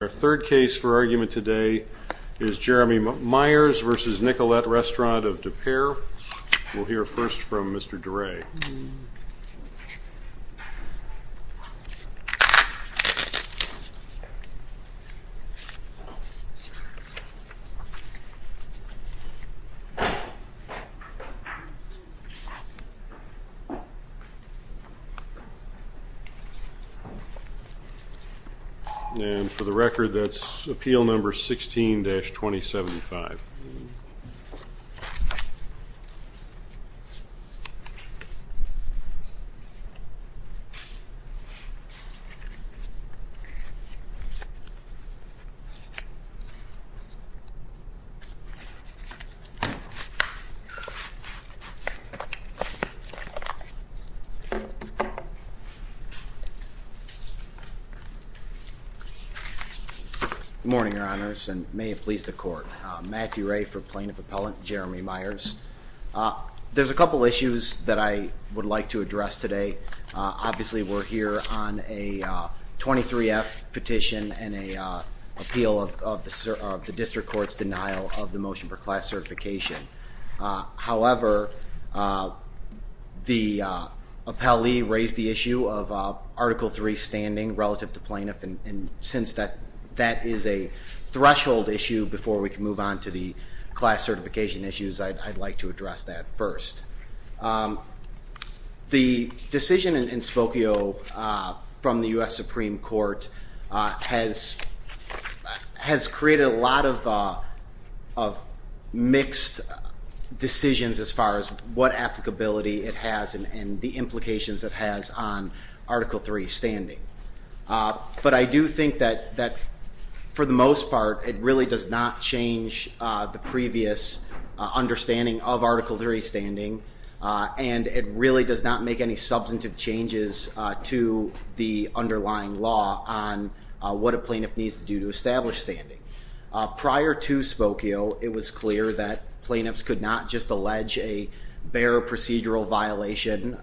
Our third case for argument today is Jeremy Meyers v. Nicolet Restaurant of DePere. We'll hear first from Mr. DeRay. And for the record, that's appeal number 16-2075. Good morning, Your Honors, and may it please the Court. Matt DeRay for Plaintiff Appellant Jeremy Meyers. There's a couple issues that I would like to address today. Obviously, we're here on a 23-F petition and an appeal of the District Court's denial of the motion for class certification. However, the appellee raised the issue of Article III standing relative to plaintiff. And since that is a threshold issue before we can move on to the class certification issues, I'd like to address that first. The decision in Spokio from the U.S. Supreme Court has created a lot of mixed decisions as far as what applicability it has and the implications it has on Article III standing. But I do think that, for the most part, it really does not change the previous understanding of Article III standing. And it really does not make any substantive changes to the underlying law on what a plaintiff needs to do to establish standing. Prior to Spokio, it was clear that plaintiffs could not just allege a bare procedural violation,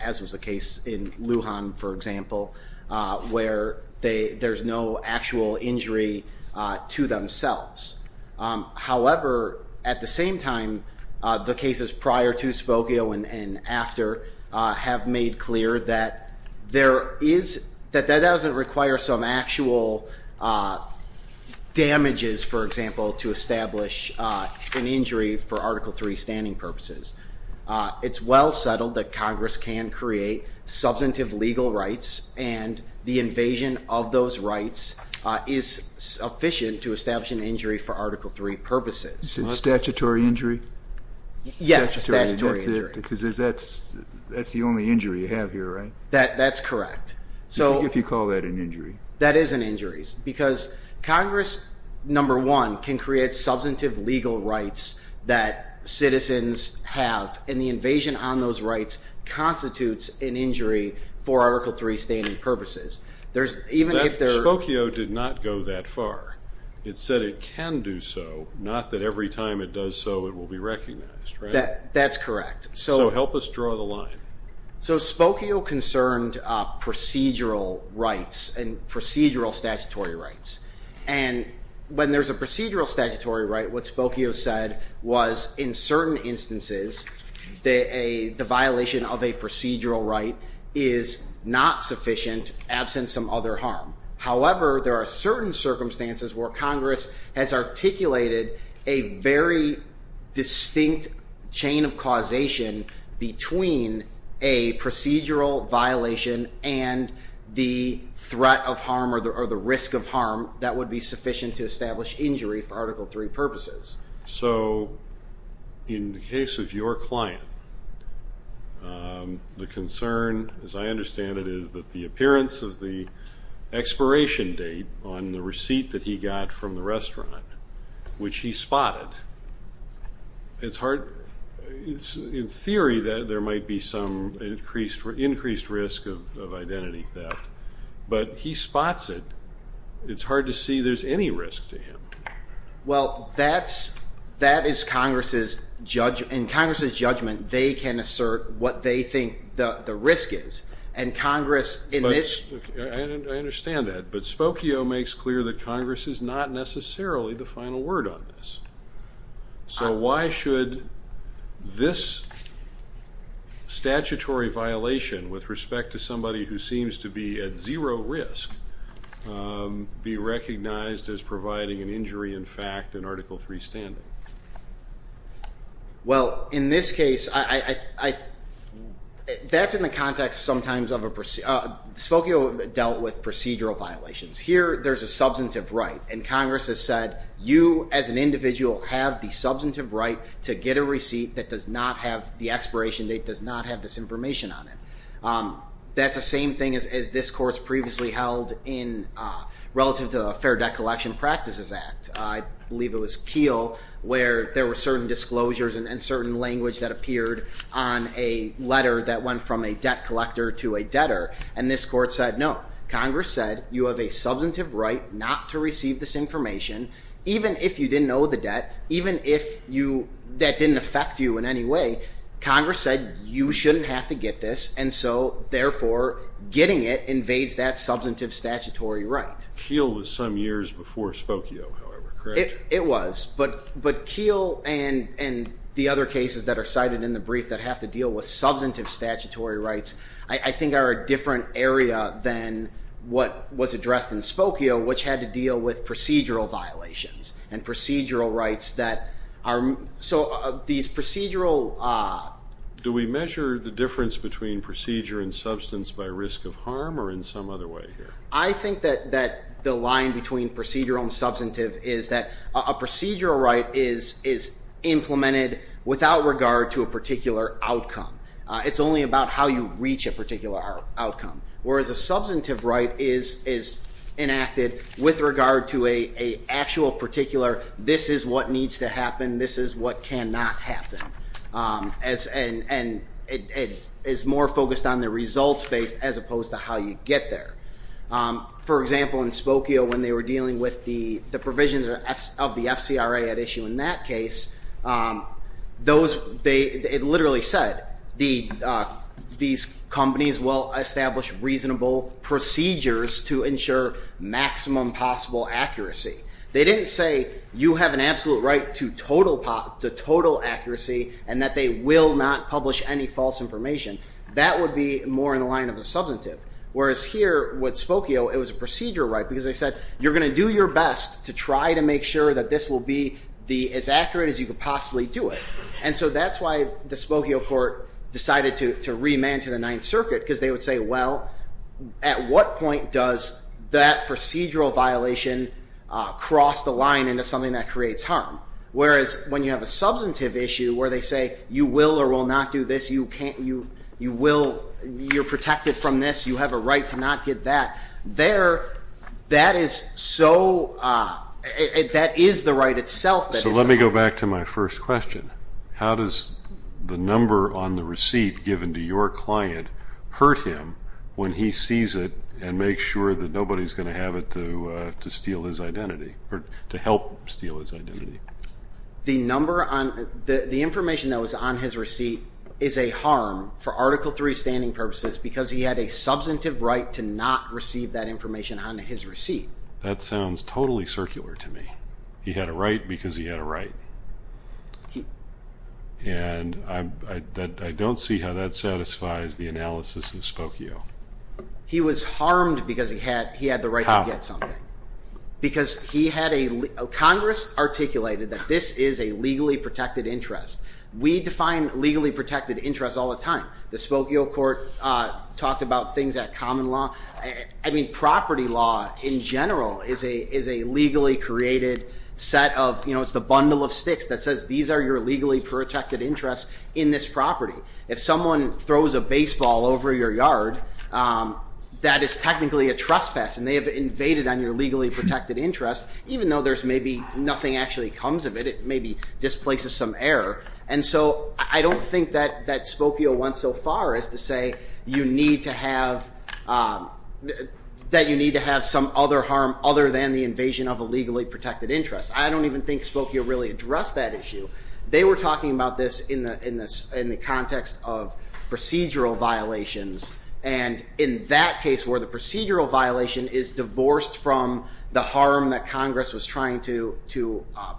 as was the case in Lujan, for example, where there's no actual injury to themselves. However, at the same time, the cases prior to Spokio and after have made clear that that doesn't require some actual damages, for example, to establish an injury for Article III standing purposes. It's well settled that Congress can create substantive legal rights, and the invasion of those rights is sufficient to establish an injury for Article III purposes. Is it a statutory injury? Yes, a statutory injury. Because that's the only injury you have here, right? That's correct. If you call that an injury. That is an injury, because Congress, number one, can create substantive legal rights that citizens have, and the invasion on those rights constitutes an injury for Article III standing purposes. Spokio did not go that far. It said it can do so, not that every time it does so, it will be recognized, right? That's correct. So help us draw the line. So Spokio concerned procedural rights and procedural statutory rights. And when there's a procedural statutory right, what Spokio said was in certain instances, the violation of a procedural right is not sufficient, absent some other harm. However, there are certain circumstances where Congress has articulated a very distinct chain of causation between a procedural violation and the threat of harm or the risk of harm that would be sufficient to establish injury for Article III purposes. So in the case of your client, the concern, as I understand it, is that the appearance of the expiration date on the receipt that he got from the restaurant, which he spotted, it's hard. In theory, there might be some increased risk of identity theft. But he spots it. Well, that is Congress's judgment. In Congress's judgment, they can assert what they think the risk is. And Congress in this ---- I understand that. But Spokio makes clear that Congress is not necessarily the final word on this. So why should this statutory violation with respect to somebody who seems to be at zero risk be recognized as providing an injury in fact in Article III standing? Well, in this case, that's in the context sometimes of a ---- Spokio dealt with procedural violations. Here there's a substantive right, and Congress has said, you as an individual have the substantive right to get a receipt that does not have the expiration date, does not have this information on it. That's the same thing as this Court's previously held in relative to the Fair Debt Collection Practices Act. I believe it was Keele where there were certain disclosures and certain language that appeared on a letter that went from a debt collector to a debtor. And this Court said, no, Congress said you have a substantive right not to receive this information even if you didn't owe the debt, even if that didn't affect you in any way. Congress said you shouldn't have to get this. And so, therefore, getting it invades that substantive statutory right. Keele was some years before Spokio, however, correct? It was. But Keele and the other cases that are cited in the brief that have to deal with substantive statutory rights, I think are a different area than what was addressed in Spokio, which had to deal with procedural violations and procedural rights that are ---- So these procedural ---- Do we measure the difference between procedure and substance by risk of harm or in some other way here? I think that the line between procedural and substantive is that a procedural right is implemented without regard to a particular outcome. It's only about how you reach a particular outcome, whereas a substantive right is enacted with regard to an actual particular, this is what needs to happen, this is what cannot happen. And it is more focused on the results-based as opposed to how you get there. For example, in Spokio, when they were dealing with the provisions of the FCRA at issue in that case, it literally said these companies will establish reasonable procedures to ensure maximum possible accuracy. They didn't say you have an absolute right to total accuracy and that they will not publish any false information. That would be more in the line of a substantive, whereas here with Spokio, it was a procedural right, because they said you're going to do your best to try to make sure that this will be as accurate as you could possibly do it. And so that's why the Spokio court decided to remand to the Ninth Circuit, because they would say, well, at what point does that procedural violation cross the line into something that creates harm? Whereas when you have a substantive issue where they say you will or will not do this, you're protected from this, you have a right to not get that, that is the right itself. So let me go back to my first question. How does the number on the receipt given to your client hurt him when he sees it and makes sure that nobody's going to have it to steal his identity or to help steal his identity? The number on the information that was on his receipt is a harm for Article III standing purposes because he had a substantive right to not receive that information on his receipt. That sounds totally circular to me. He had a right because he had a right. And I don't see how that satisfies the analysis of Spokio. He was harmed because he had the right to get something. How? Because Congress articulated that this is a legally protected interest. We define legally protected interest all the time. The Spokio court talked about things at common law. Property law in general is a legally created set of, it's the bundle of sticks that says these are your legally protected interests in this property. If someone throws a baseball over your yard, that is technically a trespass and they have invaded on your legally protected interest, even though there's maybe nothing actually comes of it, it maybe displaces some error. And so I don't think that Spokio went so far as to say you need to have, that you need to have some other harm other than the invasion of a legally protected interest. I don't even think Spokio really addressed that issue. They were talking about this in the context of procedural violations and in that case where the procedural violation is divorced from the harm that Congress was trying to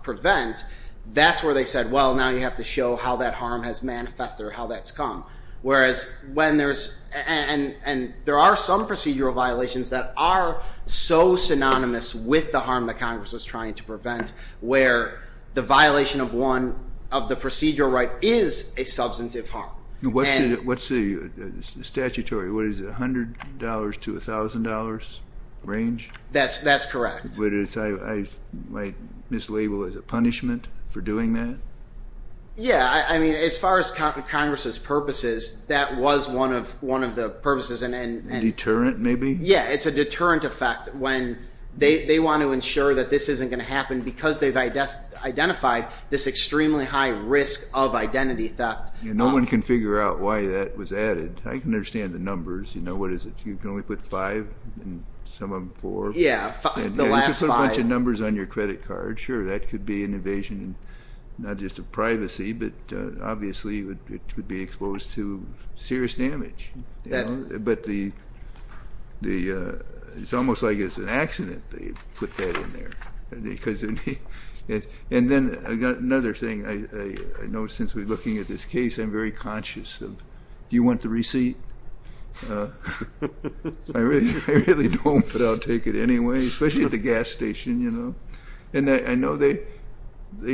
prevent, that's where they said, well, now you have to show how that harm has manifested or how that's come. Whereas when there's, and there are some procedural violations that are so synonymous with the harm that Congress was trying to prevent, where the violation of one of the procedural right is a substantive harm. What's the statutory, what is it, $100 to $1,000 range? That's correct. I mislabel it as a punishment for doing that? Yeah, I mean, as far as Congress's purposes, that was one of the purposes. A deterrent maybe? Yeah, it's a deterrent effect when they want to ensure that this isn't going to happen because they've identified this extremely high risk of identity theft. No one can figure out why that was added. I can understand the numbers, you know, what is it, you can only put five and some of them four? Yeah, the last five. You can put a bunch of numbers on your credit card, sure, that could be an invasion, not just of privacy, but obviously it would be exposed to serious damage. But it's almost like it's an accident they put that in there. And then another thing, I know since we're looking at this case, I'm very conscious of do you want the receipt? I really don't, but I'll take it anyway, especially at the gas station. And I know they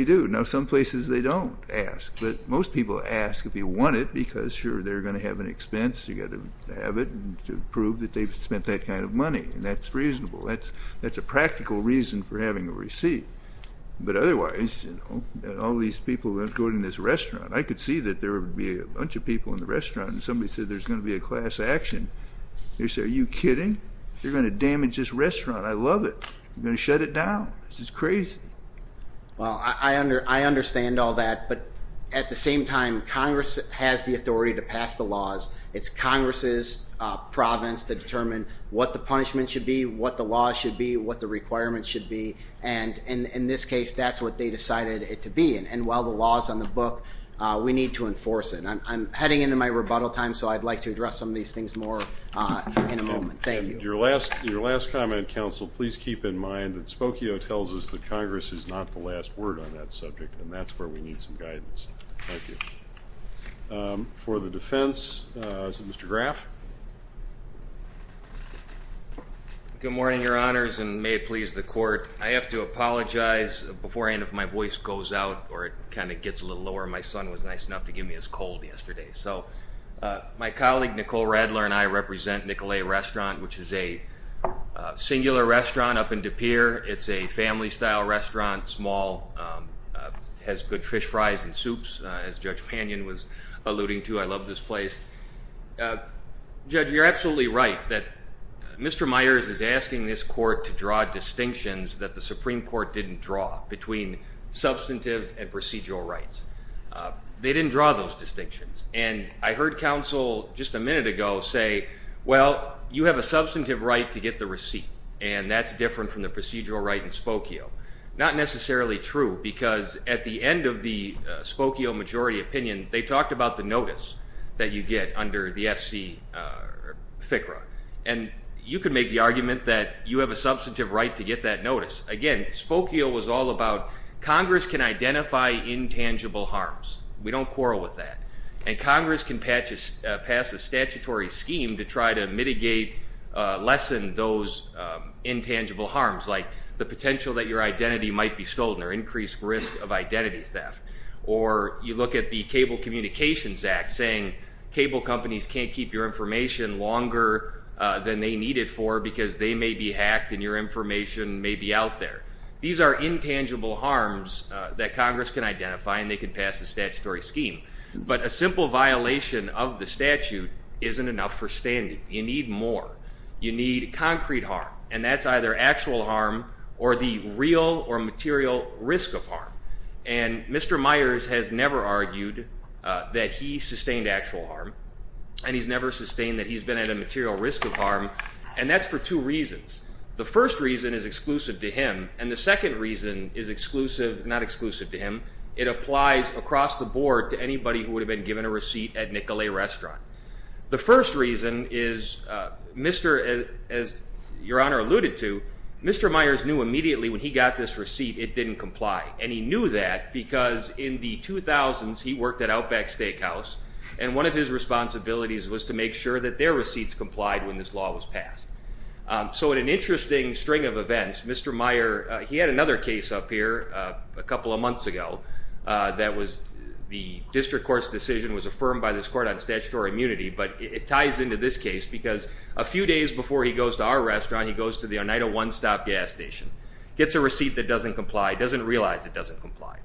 do. Now, some places they don't ask, but most people ask if you want it because, sure, they're going to have an expense, you've got to have it to prove that they've spent that kind of money, and that's reasonable. That's a practical reason for having a receipt. But otherwise, all these people going to this restaurant, I could see that there would be a bunch of people in the restaurant and somebody said there's going to be a class action. They say, are you kidding? They're going to damage this restaurant. I love it. They're going to shut it down. This is crazy. Well, I understand all that, but at the same time, Congress has the authority to pass the laws. It's Congress's province to determine what the punishment should be, what the laws should be, what the requirements should be. And in this case, that's what they decided it to be. And while the law is on the book, we need to enforce it. I'm heading into my rebuttal time, so I'd like to address some of these things more in a moment. Thank you. And your last comment, counsel, please keep in mind that Spokio tells us that Congress is not the last word on that subject, and that's where we need some guidance. Thank you. For the defense, is it Mr. Graff? Good morning, Your Honors, and may it please the Court. I have to apologize. Before I end, if my voice goes out or it kind of gets a little lower, my son was nice enough to give me his cold yesterday. So my colleague, Nicole Radler, and I represent Nicolet Restaurant, which is a singular restaurant up in DePere. It's a family-style restaurant, small, has good fish fries and soups, as Judge Pannion was alluding to. I love this place. Judge, you're absolutely right that Mr. Myers is asking this Court to draw distinctions that the Supreme Court didn't draw between substantive and procedural rights. They didn't draw those distinctions. And I heard counsel just a minute ago say, well, you have a substantive right to get the receipt, and that's different from the procedural right in Spokio. Not necessarily true, because at the end of the Spokio majority opinion, they talked about the notice that you get under the FC FCRA. And you could make the argument that you have a substantive right to get that notice. Again, Spokio was all about Congress can identify intangible harms. We don't quarrel with that. And Congress can pass a statutory scheme to try to mitigate, lessen those intangible harms, like the potential that your identity might be stolen or increased risk of identity theft. Or you look at the Cable Communications Act saying cable companies can't keep your information longer than they need it for because they may be out there. These are intangible harms that Congress can identify, and they can pass a statutory scheme. But a simple violation of the statute isn't enough for standing. You need more. You need concrete harm. And that's either actual harm or the real or material risk of harm. And Mr. Myers has never argued that he sustained actual harm, and he's never sustained that he's been at a material risk of harm. And that's for two reasons. The first reason is exclusive to him. And the second reason is exclusive, not exclusive to him. It applies across the board to anybody who would have been given a receipt at Nicolet Restaurant. The first reason is, as Your Honor alluded to, Mr. Myers knew immediately when he got this receipt it didn't comply. And he knew that because in the 2000s he worked at Outback Steakhouse, and one of his responsibilities was to make sure that their receipts complied when this law was passed. So in an interesting string of events, Mr. Myers, he had another case up here a couple of months ago that was the district court's decision was affirmed by this court on statutory immunity, but it ties into this case because a few days before he goes to our restaurant, he goes to the Oneida one-stop gas station, gets a receipt that doesn't comply, doesn't realize it doesn't comply.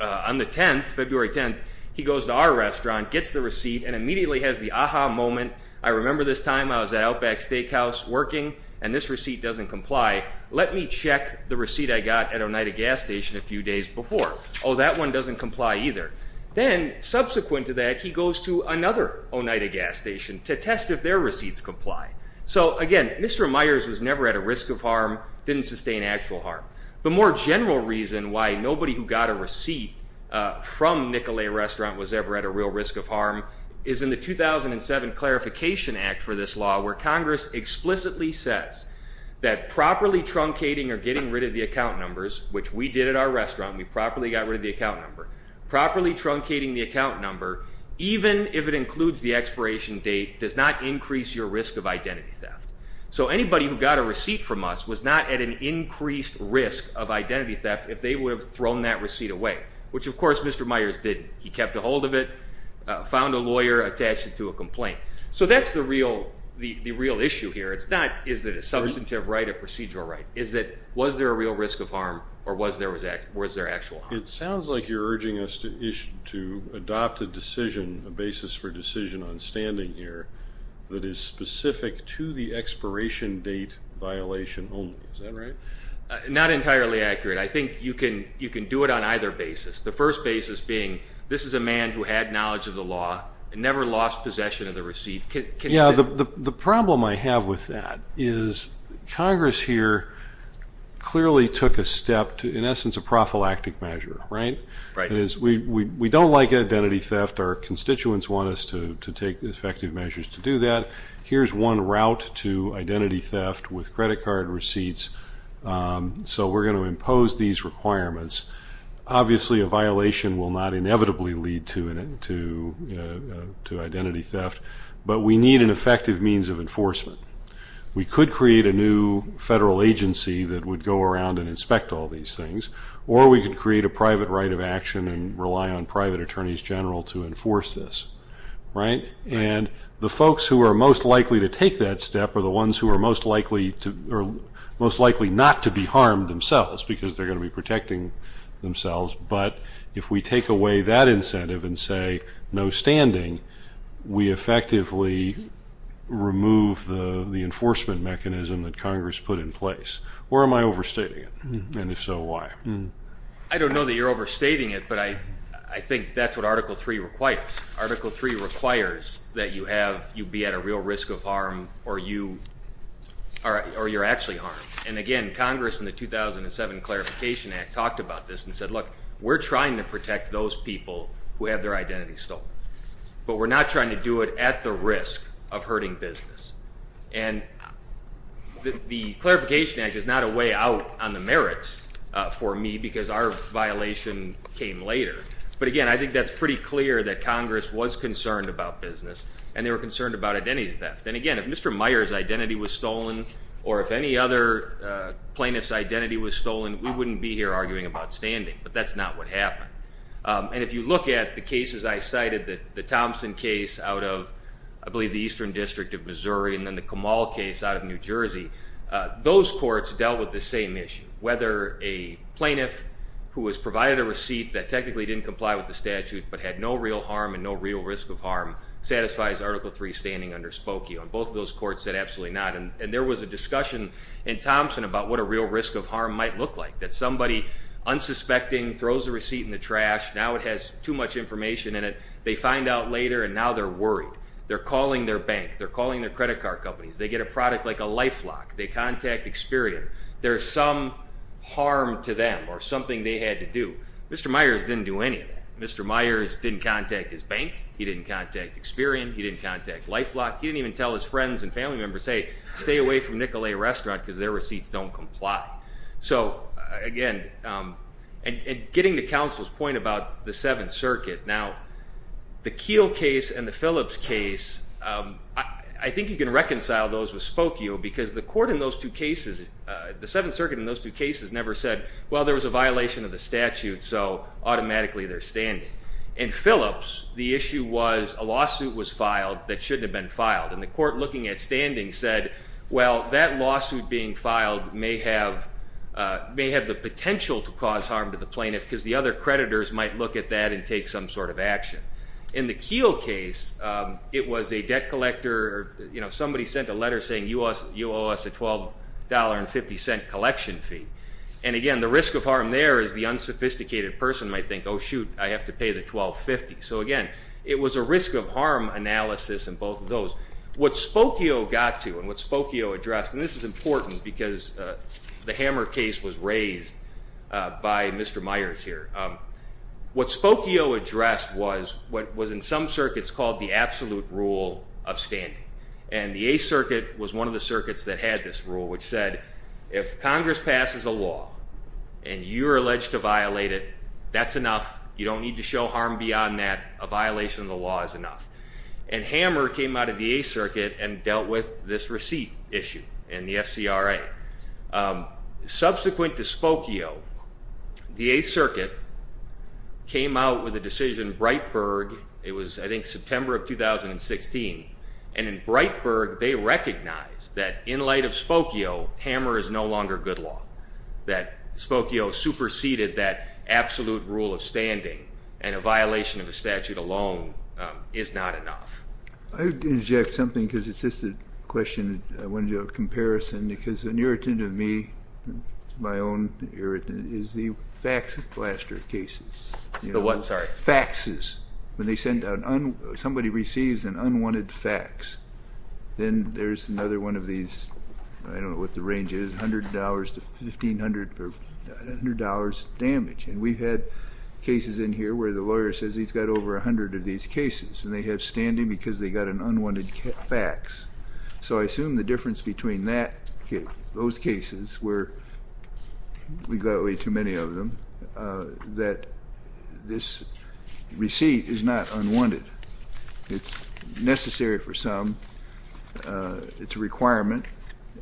On the 10th, February 10th, he goes to our restaurant, gets the receipt, and immediately has the aha moment. I remember this time I was at Outback Steakhouse working, and this receipt doesn't comply. Let me check the receipt I got at Oneida gas station a few days before. Oh, that one doesn't comply either. Then subsequent to that, he goes to another Oneida gas station to test if their receipts comply. So, again, Mr. Myers was never at a risk of harm, didn't sustain actual harm. The more general reason why nobody who got a receipt from Nicolet Restaurant was ever at a real risk of harm is in the 2007 Clarification Act for this law where Congress explicitly says that properly truncating or getting rid of the account numbers, which we did at our restaurant. We properly got rid of the account number. Properly truncating the account number, even if it includes the expiration date, does not increase your risk of identity theft. So anybody who got a receipt from us was not at an increased risk of identity theft if they would have thrown that receipt away, which, of course, Mr. Myers didn't. He kept a hold of it, found a lawyer, attached it to a complaint. So that's the real issue here. It's not is it a substantive right or procedural right. It's that was there a real risk of harm or was there actual harm. It sounds like you're urging us to adopt a decision, a basis for decision, on standing here that is specific to the expiration date violation only. Is that right? Not entirely accurate. I think you can do it on either basis, the first basis being this is a man who had knowledge of the law and never lost possession of the receipt. Yeah, the problem I have with that is Congress here clearly took a step to, in essence, a prophylactic measure, right? We don't like identity theft. Our constituents want us to take effective measures to do that. Here's one route to identity theft with credit card receipts. So we're going to impose these requirements. Obviously, a violation will not inevitably lead to identity theft, but we need an effective means of enforcement. We could create a new federal agency that would go around and inspect all these things, or we could create a private right of action and rely on private attorneys general to enforce this, right? And the folks who are most likely to take that step are the ones who are most likely not to be harmed themselves, because they're going to be protecting themselves. But if we take away that incentive and say no standing, we effectively remove the enforcement mechanism that Congress put in place. Or am I overstating it? And if so, why? I don't know that you're overstating it, but I think that's what Article III requires. Article III requires that you be at a real risk of harm or you're actually harmed. And, again, Congress in the 2007 Clarification Act talked about this and said, look, we're trying to protect those people who have their identity stolen, but we're not trying to do it at the risk of hurting business. And the Clarification Act is not a way out on the merits for me because our violation came later. But, again, I think that's pretty clear that Congress was concerned about business and they were concerned about identity theft. And, again, if Mr. Meyer's identity was stolen or if any other plaintiff's identity was stolen, we wouldn't be here arguing about standing, but that's not what happened. And if you look at the cases I cited, the Thompson case out of, I believe, the Eastern District of Missouri and then the Kamal case out of New Jersey, those courts dealt with the same issue, whether a plaintiff who was provided a receipt that technically didn't comply with the statute but had no real harm and no real risk of harm satisfies Article III standing underspoke you. And both of those courts said absolutely not. And there was a discussion in Thompson about what a real risk of harm might look like, that somebody unsuspecting throws a receipt in the trash, now it has too much information in it, they find out later and now they're worried. They're calling their bank. They're calling their credit card companies. They get a product like a LifeLock. They contact Experian. There's some harm to them or something they had to do. Mr. Meyer's didn't do any of that. Mr. Meyer's didn't contact his bank. He didn't contact Experian. He didn't contact LifeLock. He didn't even tell his friends and family members, hey, stay away from Nicolet Restaurant because their receipts don't comply. So, again, and getting to counsel's point about the Seventh Circuit, now the Keel case and the Phillips case, I think you can reconcile those with spoke you because the court in those two cases, the Seventh Circuit in those two cases never said, well, there was a violation of the statute so automatically they're standing. In Phillips, the issue was a lawsuit was filed that shouldn't have been filed, and the court looking at standing said, well, that lawsuit being filed may have the potential to cause harm to the plaintiff because the other creditors might look at that and take some sort of action. In the Keel case, it was a debt collector. Somebody sent a letter saying you owe us a $12.50 collection fee, and, again, the risk of harm there is the unsophisticated person might think, oh, shoot, I have to pay the $12.50. So, again, it was a risk of harm analysis in both of those. What Spokio got to and what Spokio addressed, and this is important because the Hammer case was raised by Mr. Myers here, what Spokio addressed was what was in some circuits called the absolute rule of standing, and the Eighth Circuit was one of the circuits that had this rule, which said if Congress passes a law and you're alleged to violate it, that's enough. You don't need to show harm beyond that. A violation of the law is enough. And Hammer came out of the Eighth Circuit and dealt with this receipt issue in the FCRA. Subsequent to Spokio, the Eighth Circuit came out with a decision, Breitberg, it was, I think, September of 2016, and in Breitberg they recognized that in light of Spokio, Hammer is no longer good law, that Spokio superseded that absolute rule of standing, and a violation of a statute alone is not enough. I would interject something because it's just a question I wanted to do a comparison because an irritant of me, my own irritant, is the fax and plaster cases. The what, sorry? Faxes. When somebody receives an unwanted fax, then there's another one of these, I don't know what the range is, $100 to $1,500 damage. And we've had cases in here where the lawyer says he's got over 100 of these cases, and they have standing because they got an unwanted fax. So I assume the difference between those cases, where we've got way too many of them, that this receipt is not unwanted. It's necessary for some. It's a requirement.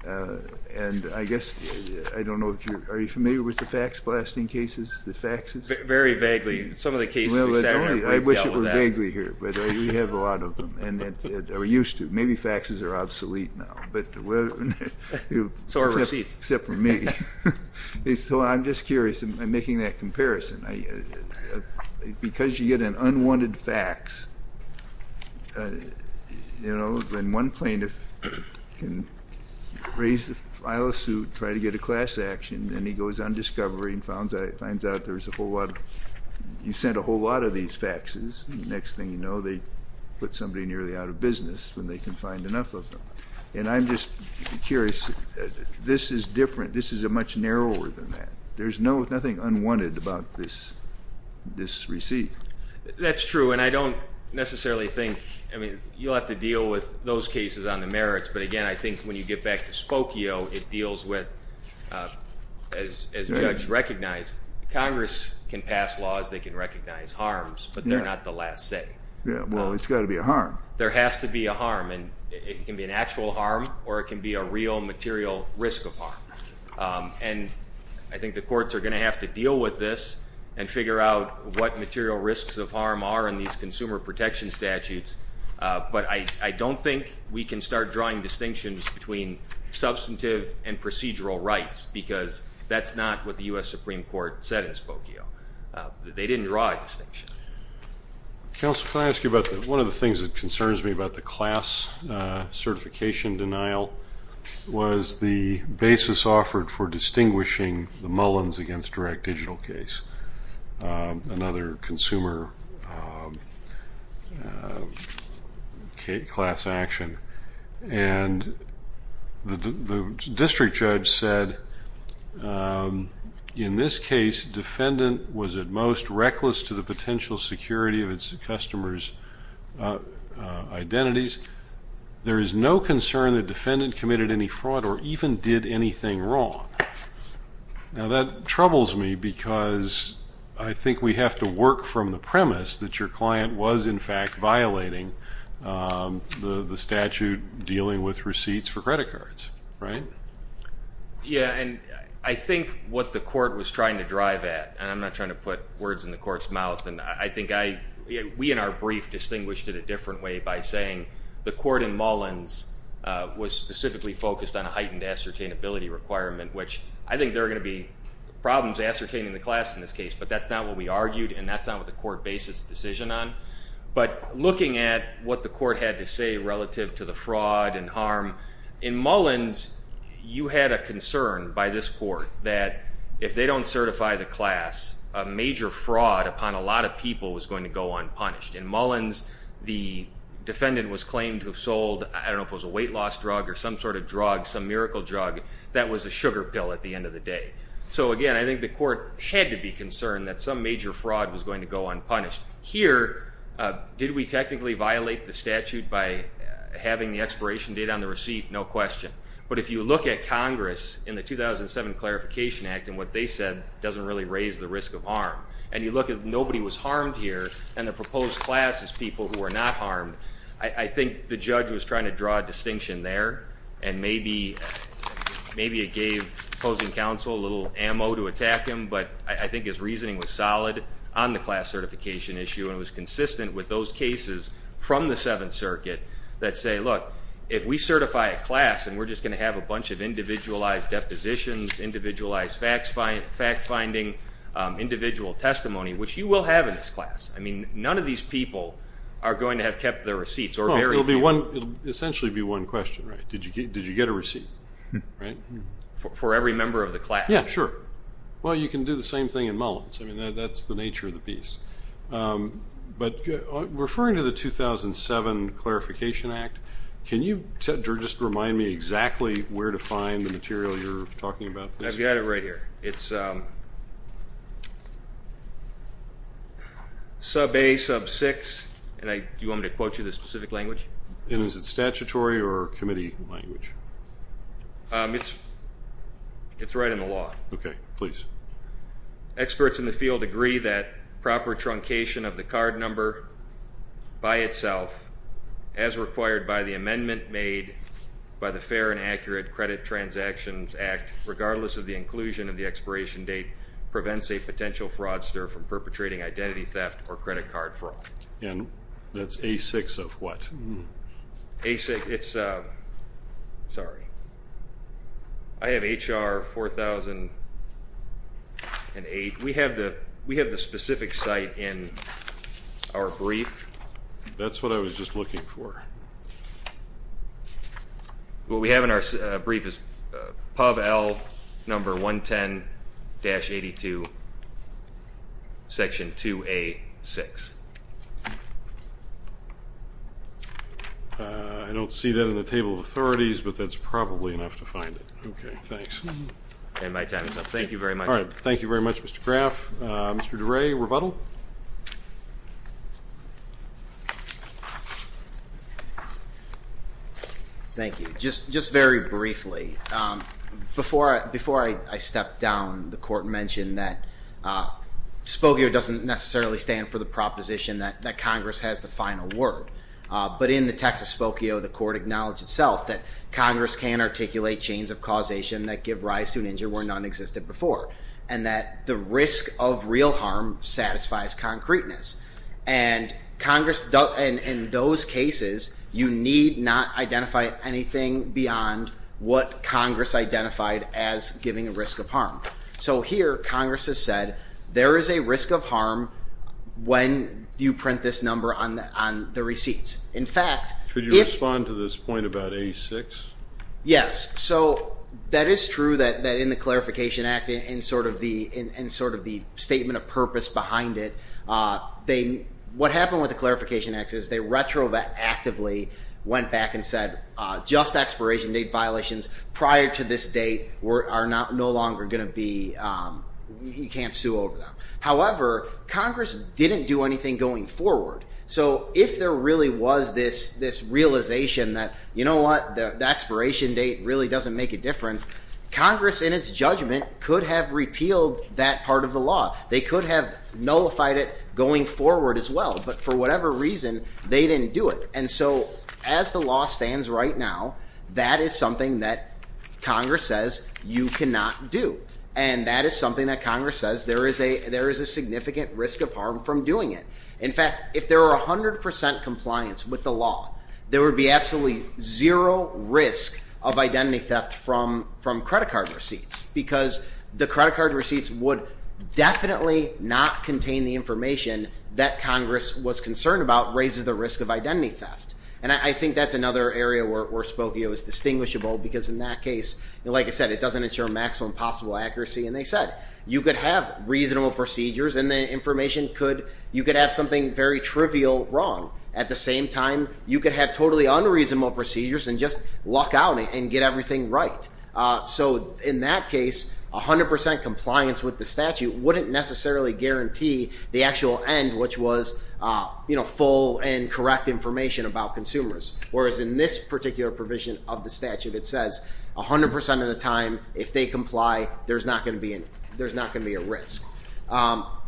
And I guess I don't know if you're familiar with the fax blasting cases, the faxes? Very vaguely. Some of the cases we've dealt with that. I wish it were vaguely here, but we have a lot of them, or used to. Maybe faxes are obsolete now. Except for me. So I'm just curious. I'm making that comparison. Because you get an unwanted fax, you know, when one plaintiff can raise the file of suit, try to get a class action, and he goes on discovery and finds out there's a whole lot of, you sent a whole lot of these faxes, the next thing you know they put somebody nearly out of business when they can find enough of them. And I'm just curious. This is different. This is much narrower than that. There's nothing unwanted about this receipt. That's true. And I don't necessarily think, I mean, you'll have to deal with those cases on the merits. But, again, I think when you get back to Spokio, it deals with, as Judge recognized, Congress can pass laws, they can recognize harms, but they're not the last say. Well, it's got to be a harm. There has to be a harm. And it can be an actual harm or it can be a real material risk of harm. And I think the courts are going to have to deal with this and figure out what material risks of harm are in these consumer protection statutes. But I don't think we can start drawing distinctions between substantive and procedural rights, because that's not what the U.S. Supreme Court said in Spokio. They didn't draw a distinction. Counsel, can I ask you about one of the things that concerns me about the class certification denial was the basis offered for distinguishing the Mullins against direct digital case, another consumer class action. And the district judge said, in this case, defendant was at most reckless to the potential security of its customer's identities. There is no concern the defendant committed any fraud or even did anything wrong. Now, that troubles me because I think we have to work from the premise that your client was, in fact, violating the statute dealing with receipts for credit cards, right? Yeah, and I think what the court was trying to drive at, and I'm not trying to put words in the court's mouth, and I think we in our brief distinguished it a different way by saying the court in Mullins was specifically focused on a heightened ascertainability requirement, which I think there are going to be problems ascertaining the class in this case, but that's not what we argued, and that's not what the court based its decision on. But looking at what the court had to say relative to the fraud and harm, in Mullins, you had a concern by this court that if they don't certify the class, a major fraud upon a lot of people was going to go unpunished. In Mullins, the defendant was claimed to have sold, I don't know if it was a weight loss drug or some sort of drug, some miracle drug that was a sugar pill at the end of the day. So, again, I think the court had to be concerned that some major fraud was going to go unpunished. Here, did we technically violate the statute by having the expiration date on the receipt? No question. But if you look at Congress in the 2007 Clarification Act and what they said doesn't really raise the risk of harm, and you look at nobody was harmed here and the proposed class is people who were not harmed, I think the judge was trying to draw a distinction there and maybe it gave opposing counsel a little ammo to attack him, but I think his reasoning was solid on the class certification issue and it was consistent with those cases from the Seventh Circuit that say, look, if we certify a class and we're just going to have a bunch of individualized depositions, individualized fact-finding, individual testimony, which you will have in this class. I mean, none of these people are going to have kept their receipts. It will essentially be one question, right? Did you get a receipt, right? For every member of the class. Yeah, sure. Well, you can do the same thing in Mullins. I mean, that's the nature of the piece. But referring to the 2007 Clarification Act, can you just remind me exactly where to find the material you're talking about? I've got it right here. It's sub A, sub 6, and do you want me to quote you the specific language? And is it statutory or committee language? It's right in the law. Okay, please. Experts in the field agree that proper truncation of the card number by itself, as required by the amendment made by the Fair and Accurate Credit Transactions Act, regardless of the inclusion of the expiration date, prevents a potential fraudster from perpetrating identity theft or credit card fraud. And that's A6 of what? A6, it's, sorry. I have HR 4008. We have the specific site in our brief. That's what I was just looking for. What we have in our brief is Pub L number 110-82, section 2A6. I don't see that in the table of authorities, but that's probably enough to find it. Okay, thanks. And my time is up. Thank you very much. Thank you very much, Mr. Graff. Mr. DeRay, rebuttal? Thank you. Just very briefly, before I step down, the Court mentioned that SPOCIO doesn't necessarily stand for the proposition that Congress has the final word. But in the text of SPOCIO, the Court acknowledged itself that Congress can articulate chains of causation that give rise to an injury where none existed before, and that the risk of real harm satisfies concreteness. And in those cases, you need not identify anything beyond what Congress identified as giving a risk of harm. So here, Congress has said, there is a risk of harm when you print this number on the receipts. In fact, if you respond to this point about A6? Yes. So that is true that in the Clarification Act, in sort of the statement of purpose behind it, what happened with the Clarification Act is they retroactively went back and said, just expiration date violations prior to this date are no longer going to be, you can't sue over them. However, Congress didn't do anything going forward. So if there really was this realization that, you know what, the expiration date really doesn't make a difference, Congress in its judgment could have repealed that part of the law. They could have nullified it going forward as well, but for whatever reason, they didn't do it. And so as the law stands right now, that is something that Congress says you cannot do. And that is something that Congress says there is a significant risk of harm from doing it. In fact, if there were a hundred percent compliance with the law, there would be absolutely zero risk of identity theft from credit card receipts because the credit card receipts would definitely not contain the information that Congress was concerned about raises the risk of identity theft. And I think that's another area where Spokio is distinguishable because in that case, like I said, it doesn't ensure maximum possible accuracy. And they said, you could have reasonable procedures and the information could, you could have something very trivial wrong. At the same time, you could have totally unreasonable procedures and just luck out and get everything right. So in that case, a hundred percent compliance with the statute wouldn't necessarily guarantee the actual end, which was, you know, full and correct information about consumers. Whereas in this particular provision of the statute, it says a hundred percent of the time, if they comply, there's not going to be an, there's not going to be a risk.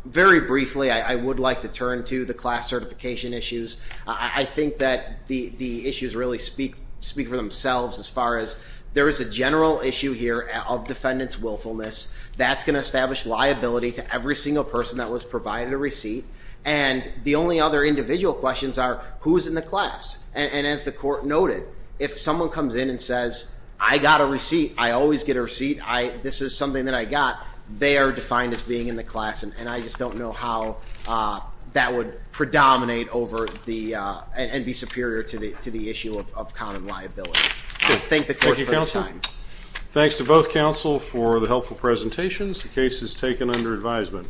Very briefly. I would like to turn to the class certification issues. I think that the, the issues really speak, speak for themselves as far as there is a general issue here of defendants willfulness. That's going to establish liability to every single person that was provided a receipt. And the only other individual questions are who's in the class. And as the court noted, if someone comes in and says, I got a receipt, I always get a receipt. I, this is something that I got. They are defined as being in the class. And I just don't know how that would predominate over the, and be superior to the, to the issue of common liability. Thank the court for this time. Thanks to both counsel for the helpful presentations. The case is taken under advisement.